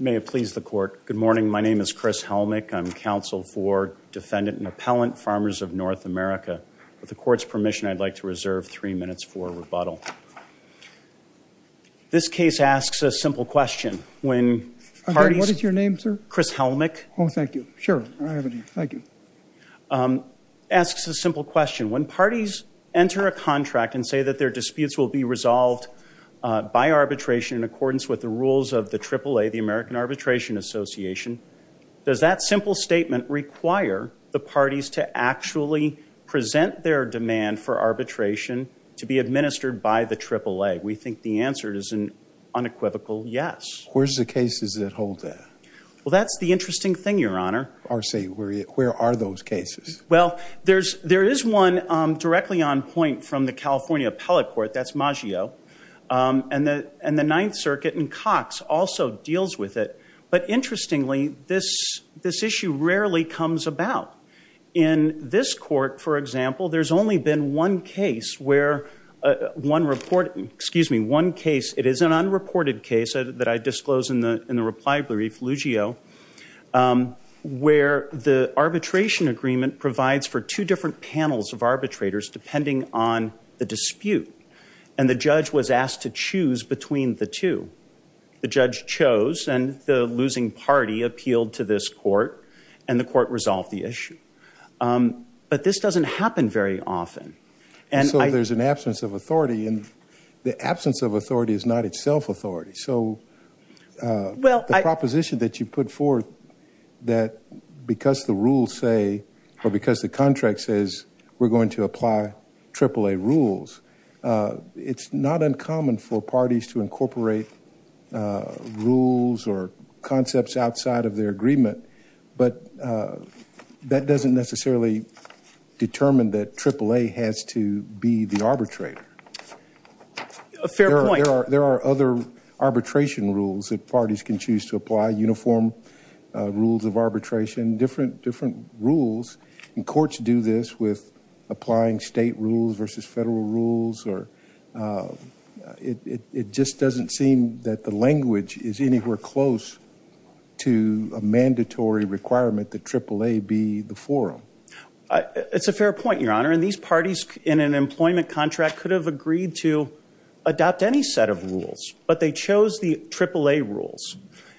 May it please the Court. Good morning. My name is Chris Helmick. I'm counsel for Defendant and Appellant Farmers of North America. With the Court's permission, I'd like to reserve three minutes for rebuttal. This case asks a simple question. When parties... What is your name, sir? Chris Helmick. Oh, thank you. Sure. I have it here. Thank you. ...asks a simple question. When parties enter a contract and say that their disputes will be resolved by arbitration in accordance with the rules of the AAA, the American Arbitration Association, does that simple statement require the parties to actually present their demand for arbitration to be administered by the AAA? We think the answer is an unequivocal yes. Where's the cases that hold that? Well, that's the interesting thing, Your Honor. I see. Where are those cases? Well, there is one directly on point from the California Appellate Court. That's Maggio. And the Ninth Circuit and Cox also deals with it. But interestingly, this issue rarely comes about. In this court, for example, there's only been one case where one report... Excuse me. One case, it is an unreported case that I disclosed in the reply brief, Luggio, where the arbitration agreement provides for two different panels of arbitrators depending on the dispute. And the judge was asked to choose between the two. The judge chose, and the losing party appealed to this court, and the court resolved the issue. But this doesn't happen very often. And so there's an absence of authority, and the absence of authority is not itself authority. So the proposition that you put forth that because the rules say, or because the contract says we're going to apply AAA rules, it's not uncommon for parties to incorporate rules or concepts outside of their agreement. But that doesn't necessarily determine that AAA has to be the arbitrator. Fair point. There are other arbitration rules that parties can choose to apply, uniform rules of arbitration, different rules. And courts do this with applying state rules versus federal rules. It just doesn't seem that the language is anywhere close to a mandatory requirement that AAA be the forum. It's a fair point, Your Honor. And these parties in an employment contract could have agreed to adopt any set of rules, but they chose the AAA rules,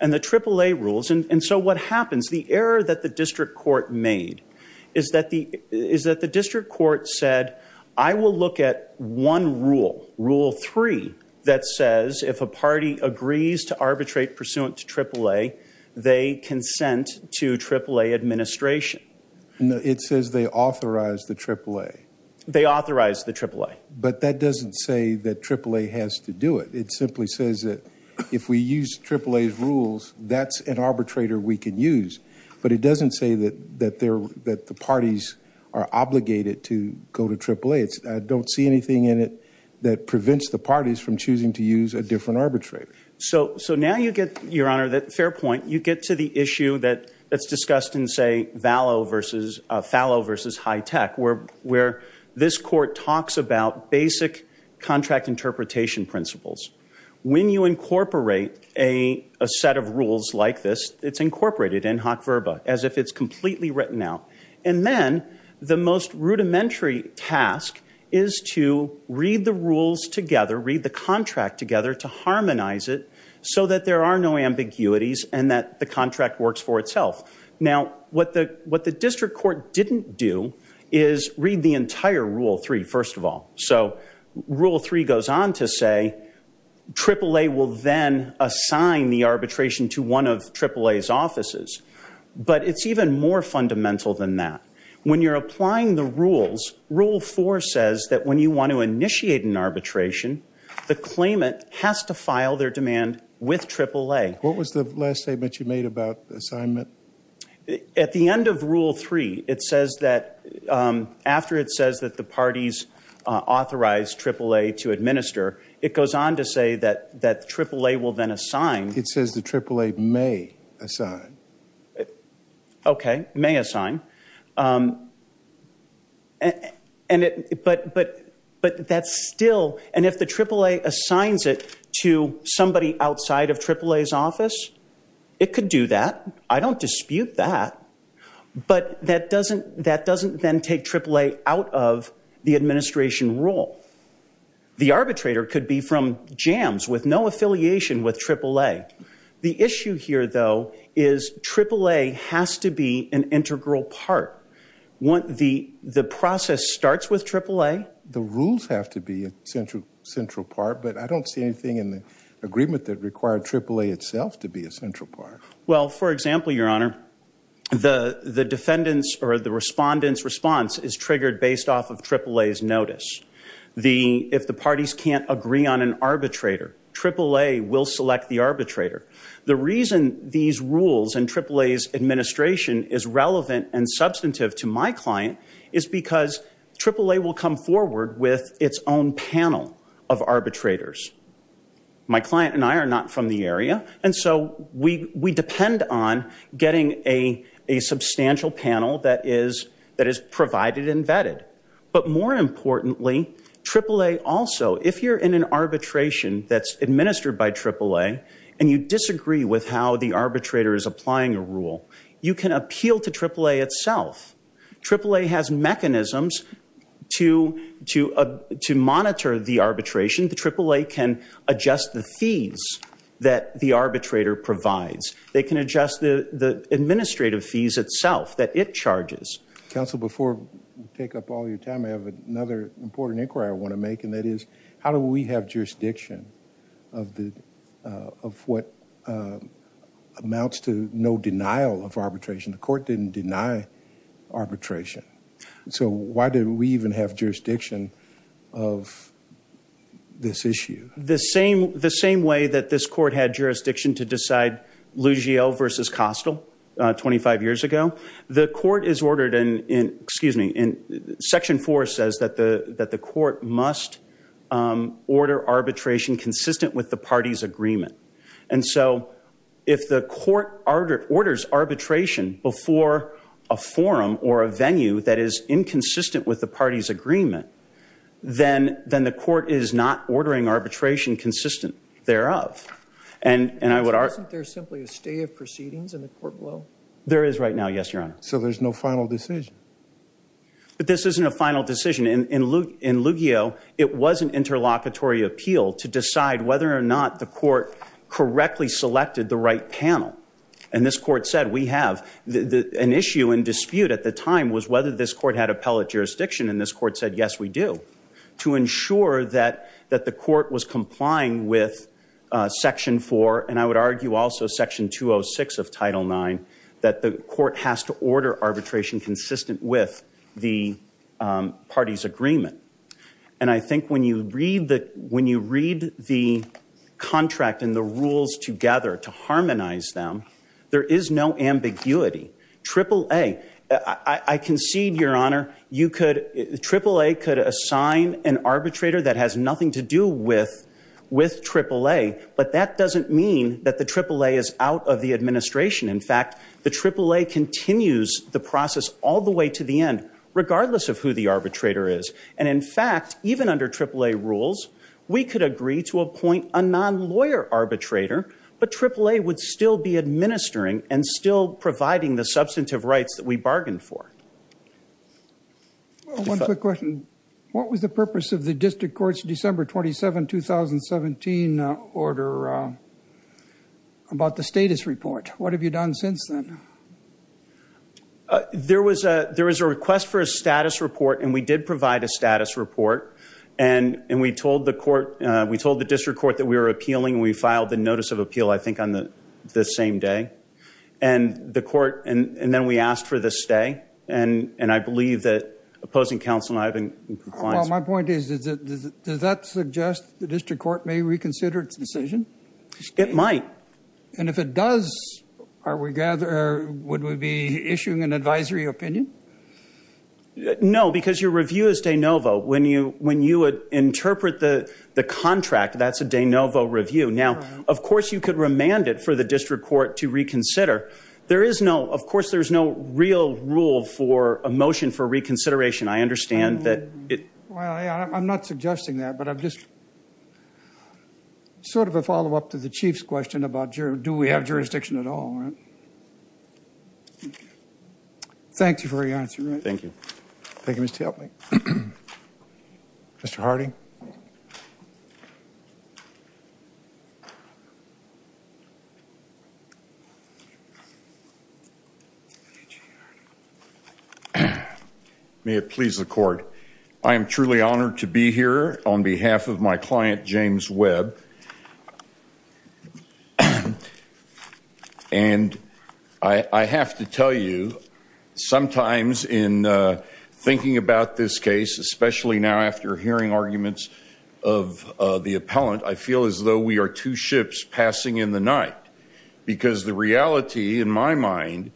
and the AAA rules. And so what happens, the error that the district court made is that the district court said, I will look at one rule, rule three, that says if a party agrees to arbitrate pursuant to AAA, they consent to AAA administration. It says they authorize the AAA. They authorize the AAA. But that doesn't say that AAA has to do it. It simply says that if we use AAA's rules, that's an arbitrator we can use. But it doesn't say that the parties are obligated to go to AAA. I don't see anything in it that prevents the parties from choosing to use a different arbitrator. So now you get, Your Honor, that fair point. You get to the issue that's discussed in, say, Fallow versus High Tech, where this court talks about basic contract interpretation principles. When you incorporate a set of rules like this, it's incorporated in hoc verba, as if it's completely written out. And then the most rudimentary task is to read the rules together, read the contract together, to harmonize it so that there are no ambiguities and that the contract works for itself. Now, what the district court didn't do is read the entire rule three, first of all. So rule three goes on to say AAA will then assign the arbitration to one of AAA's offices. But it's even more fundamental than that. When you're applying the rules, rule four says that when you want to initiate an arbitration, the claimant has to file their demand with AAA. What was the last statement you made about assignment? At the end of rule three, it says that after it says that the parties authorize AAA to administer, it goes on to say that AAA will then assign. It says that AAA may assign. Okay, may assign. But that's still, and if the AAA assigns it to somebody outside of AAA's office, it could do that. I don't dispute that. But that doesn't then take AAA out of the administration rule. The arbitrator could be from JAMS with no affiliation with AAA. The issue here, though, is AAA has to be an integral part. The process starts with AAA. The rules have to be a central part, but I don't see anything in the agreement that required AAA itself to be a central part. Well, for example, Your Honor, the defendant's or the respondent's response is triggered based off of AAA's notice. If the parties can't agree on an arbitrator, AAA will select the arbitrator. The reason these rules and AAA's administration is relevant and substantive to my client is because AAA will come forward with its own panel of arbitrators. My client and I are not from the area, and so we depend on getting a substantial panel that is provided and vetted. But more importantly, AAA also, if you're in an arbitration that's administered by AAA and you disagree with how the arbitrator is applying a rule, you can appeal to AAA itself. AAA has mechanisms to monitor the arbitration. The AAA can adjust the fees that the arbitrator provides. They can adjust the administrative fees itself that it charges. Counsel, before we take up all your time, I have another important inquiry I want to make, and that is how do we have jurisdiction of what amounts to no denial of arbitration? The court didn't deny arbitration. So why did we even have jurisdiction of this issue? The same way that this court had jurisdiction to decide Lugiel versus Kostel 25 years ago, the court is ordered in Section 4 says that the court must order arbitration consistent with the party's agreement. And so if the court orders arbitration before a forum or a venue that is inconsistent with the party's agreement, then the court is not ordering arbitration consistent thereof. Counsel, isn't there simply a stay of proceedings in the court below? There is right now, yes, Your Honor. So there's no final decision? This isn't a final decision. In Lugiel, it was an interlocutory appeal to decide whether or not the court correctly selected the right panel. And this court said, we have. An issue in dispute at the time was whether this court had appellate jurisdiction, and this court said, yes, we do, to ensure that the court was complying with Section 4, and I would argue also Section 206 of Title IX, that the court has to order arbitration consistent with the party's agreement. And I think when you read the contract and the rules together to harmonize them, there is no ambiguity. AAA, I concede, Your Honor, you could, AAA could assign an arbitrator that has nothing to do with AAA, but that doesn't mean that the AAA is out of the administration. In fact, the AAA continues the process all the way to the end, regardless of who the arbitrator is. And in fact, even under AAA rules, we could agree to appoint a non-lawyer arbitrator, but AAA would still be administering and still providing the substantive rights that we bargained for. One quick question. What was the purpose of the district court's December 27, 2017, order about the status report? What have you done since then? There was a request for a status report, and we did provide a status report, and we told the court, we told the district court that we were appealing, and we filed the notice of appeal, I think, on the same day. And the court, and then we asked for the stay, and I believe that opposing counsel and I have been in compliance. Well, my point is, does that suggest the district court may reconsider its decision? It might. And if it does, would we be issuing an advisory opinion? No, because your review is de novo. When you would interpret the contract, that's a de novo review. Now, of course, you could remand it for the district court to reconsider. There is no, of course, there's no real rule for a motion for reconsideration. I understand that it. I'm not suggesting that, but I'm just sort of a follow-up to the chief's question about do we have jurisdiction at all. Thank you for your answer. Thank you. Thank you, Mr. Helpman. Mr. Harding. May it please the court. I am truly honored to be here on behalf of my client, James Webb. And I have to tell you, sometimes in thinking about this case, especially now after hearing arguments of the appellant, I feel as though we are two ships passing in the night, because the reality in my mind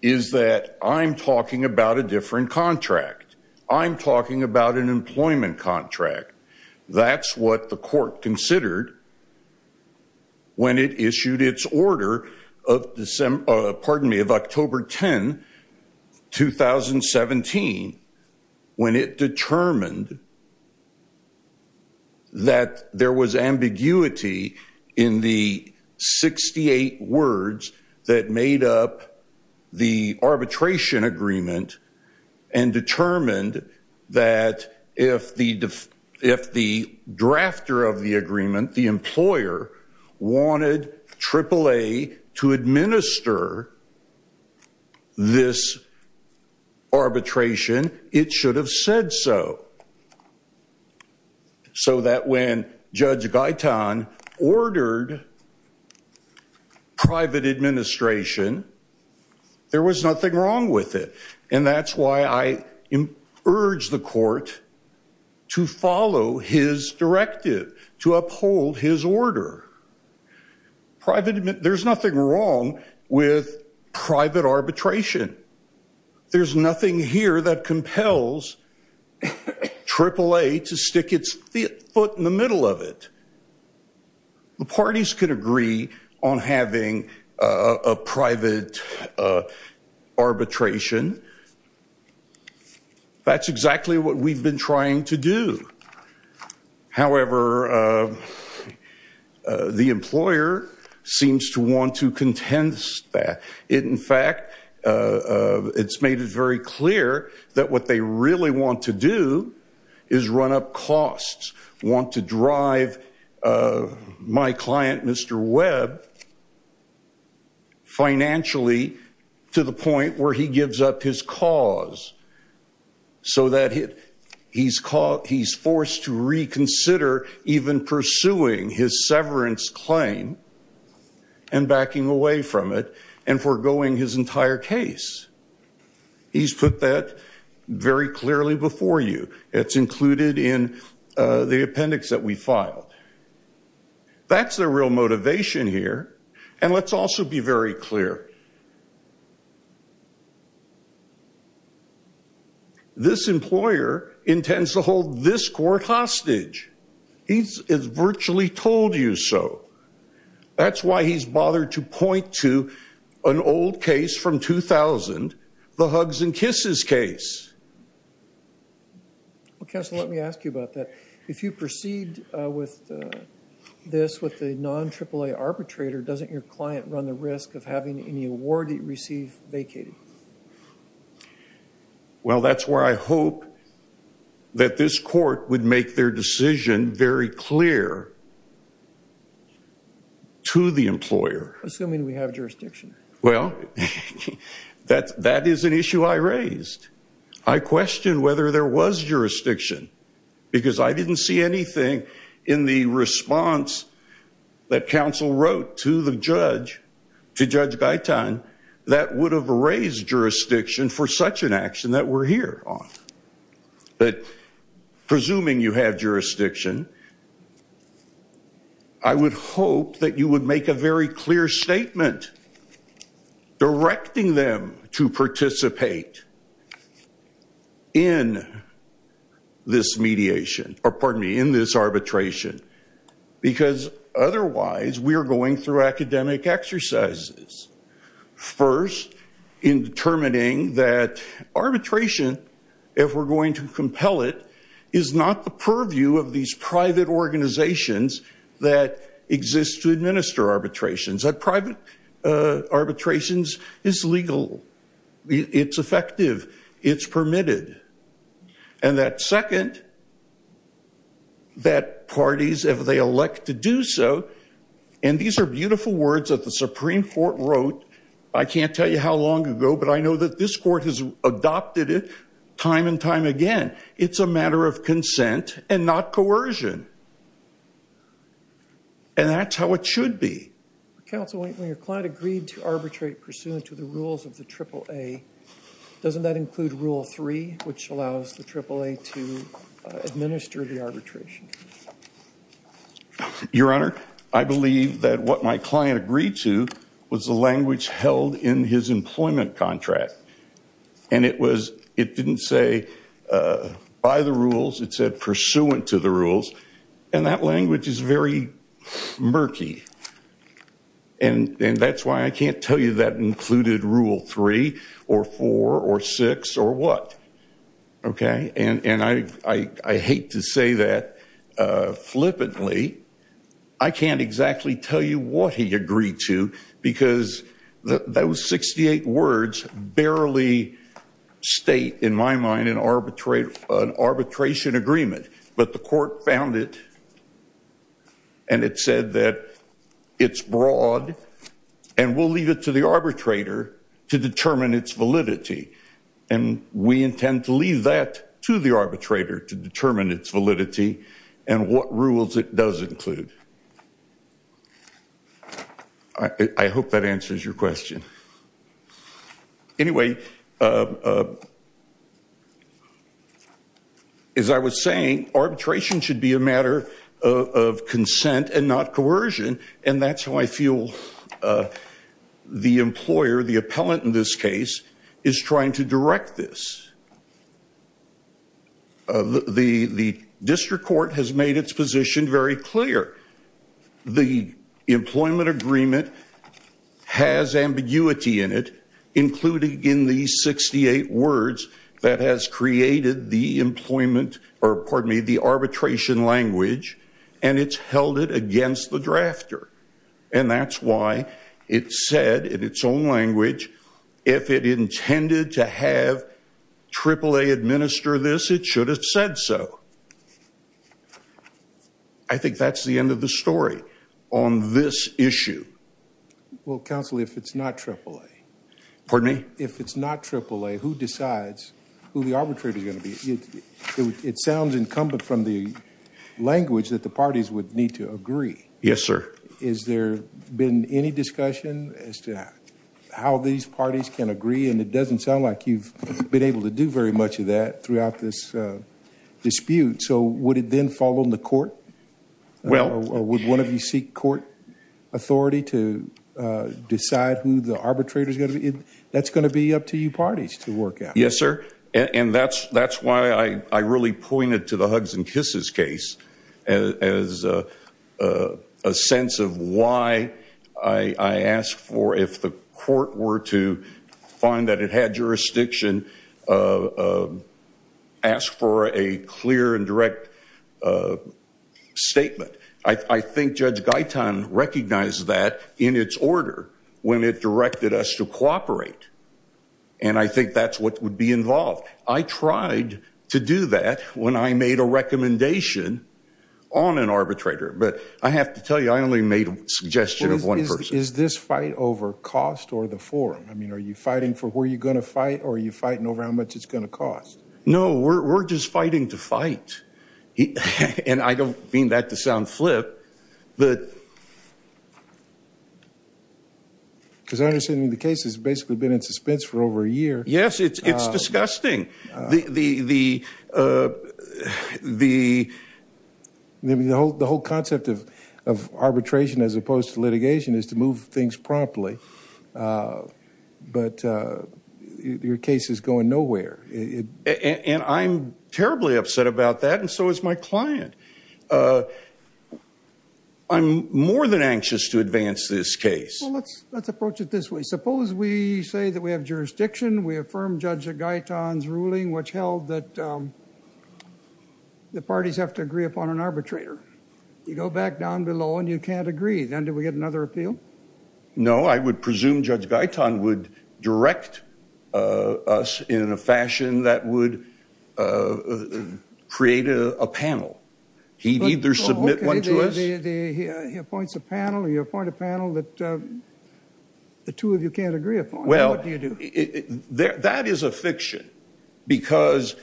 is that I'm talking about a different contract. I'm talking about an employment contract. That's what the court considered when it issued its order of October 10, 2017, when it determined that there was ambiguity in the 68 words that made up the arbitration agreement and determined that if the drafter of the agreement, the employer, wanted AAA to administer this arbitration, it should have said so, so that when Judge Guyton ordered private administration, there was nothing wrong with it. And that's why I urge the court to follow his directive, to uphold his order. There's nothing wrong with private arbitration. There's nothing here that compels AAA to stick its foot in the middle of it. The parties could agree on having a private arbitration. That's exactly what we've been trying to do. However, the employer seems to want to contend that. In fact, it's made it very clear that what they really want to do is run up costs, want to drive my client, Mr. Webb, financially to the point where he gives up his cause, so that he's forced to reconsider even pursuing his severance claim and backing away from it and foregoing his entire case. He's put that very clearly before you. It's included in the appendix that we filed. That's the real motivation here. And let's also be very clear. This employer intends to hold this court hostage. He's virtually told you so. That's why he's bothered to point to an old case from 2000, the hugs and kisses case. Well, counsel, let me ask you about that. If you proceed with this with the non-AAA arbitrator, doesn't your client run the risk of having any award he received vacated? Well, that's where I hope that this court would make their decision very clear to the employer. Assuming we have jurisdiction. Well, that is an issue I raised. I questioned whether there was jurisdiction, because I didn't see anything in the response that counsel wrote to the judge, to Judge Gaitan, that would have raised jurisdiction for such an action that we're here on. But presuming you have jurisdiction, I would hope that you would make a very clear statement directing them to participate. In this mediation, or pardon me, in this arbitration. Because otherwise, we are going through academic exercises. First, in determining that arbitration, if we're going to compel it, is not the purview of these private organizations that exist to administer arbitrations. Private arbitrations is legal. It's effective. It's permitted. And that second, that parties, if they elect to do so, and these are beautiful words that the Supreme Court wrote, I can't tell you how long ago, but I know that this court has adopted it time and time again, it's a matter of consent and not coercion. And that's how it should be. Counsel, when your client agreed to arbitrate pursuant to the rules of the AAA, doesn't that include Rule 3, which allows the AAA to administer the arbitration? Your Honor, I believe that what my client agreed to was the language held in his employment contract. And it didn't say by the rules, it said pursuant to the rules. And that language is very murky. And that's why I can't tell you that included Rule 3 or 4 or 6 or what. Okay? And I hate to say that flippantly. I can't exactly tell you what he agreed to because those 68 words barely state, in my mind, an arbitration agreement. But the court found it, and it said that it's broad, and we'll leave it to the arbitrator to determine its validity. And we intend to leave that to the arbitrator to determine its validity and what rules it does include. I hope that answers your question. Anyway, as I was saying, arbitration should be a matter of consent and not coercion. And that's how I feel the employer, the appellant in this case, is trying to direct this. The district court has made its position very clear. The employment agreement has ambiguity in it, including in these 68 words that has created the arbitration language. And it's held it against the drafter. And that's why it said, in its own language, if it intended to have AAA administer this, it should have said so. I think that's the end of the story on this issue. Well, counsel, if it's not AAA... Pardon me? If it's not AAA, who decides who the arbitrator is going to be? It sounds incumbent from the language that the parties would need to agree. Yes, sir. Has there been any discussion as to how these parties can agree? And it doesn't sound like you've been able to do very much of that throughout this dispute. So would it then fall on the court? Or would one of you seek court authority to decide who the arbitrator is going to be? That's going to be up to you parties to work out. Yes, sir. And that's why I really pointed to the hugs and kisses case as a sense of why I asked for, if the court were to find that it had jurisdiction, ask for a clear and direct statement. I think Judge Gaitan recognized that in its order when it directed us to cooperate. And I think that's what would be involved. I tried to do that when I made a recommendation on an arbitrator. But I have to tell you, I only made a suggestion of one person. Is this fight over cost or the form? I mean, are you fighting for where you're going to fight or are you fighting over how much it's going to cost? No, we're just fighting to fight. And I don't mean that to sound flip. Because I understand the case has basically been in suspense for over a year. Yes, it's disgusting. The whole concept of arbitration as opposed to litigation is to move things promptly. But your case is going nowhere. And I'm terribly upset about that and so is my client. I'm more than anxious to advance this case. Well, let's approach it this way. Suppose we say that we have jurisdiction. We affirm Judge Gaitan's ruling which held that the parties have to agree upon an arbitrator. You go back down below and you can't agree. Then do we get another appeal? No, I would presume Judge Gaitan would direct us in a fashion that would create a panel. He'd either submit one to us. He appoints a panel. You appoint a panel that the two of you can't agree upon. Well, that is a fiction. Because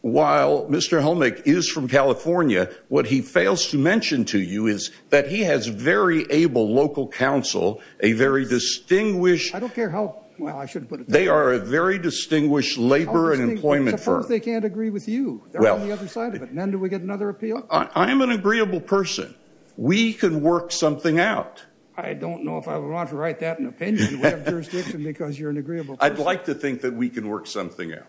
while Mr. Helmick is from California, what he fails to mention to you is that he has very able local council, a very distinguished— I don't care how—well, I shouldn't put it that way. They are a very distinguished labor and employment firm. Suppose they can't agree with you. They're on the other side of it. Then do we get another appeal? I am an agreeable person. We can work something out. I don't know if I would want to write that in a pen. You have jurisdiction because you're an agreeable person. I'd like to think that we can work something out.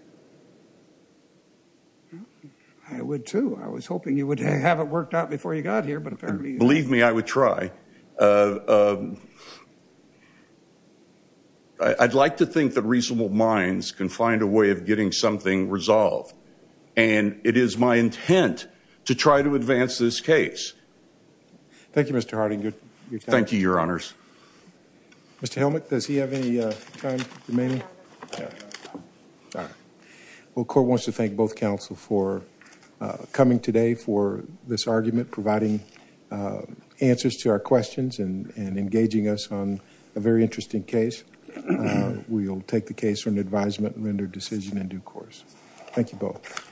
I would, too. I was hoping you would have it worked out before you got here, but apparently— Believe me, I would try. I'd like to think that reasonable minds can find a way of getting something resolved. And it is my intent to try to advance this case. Thank you, Mr. Harding. Thank you, Your Honors. Mr. Helmick, does he have any time remaining? No. All right. Well, the court wants to thank both counsel for coming today for this argument, providing answers to our questions and engaging us on a very interesting case. We'll take the case for an advisement and render a decision in due course. Thank you both.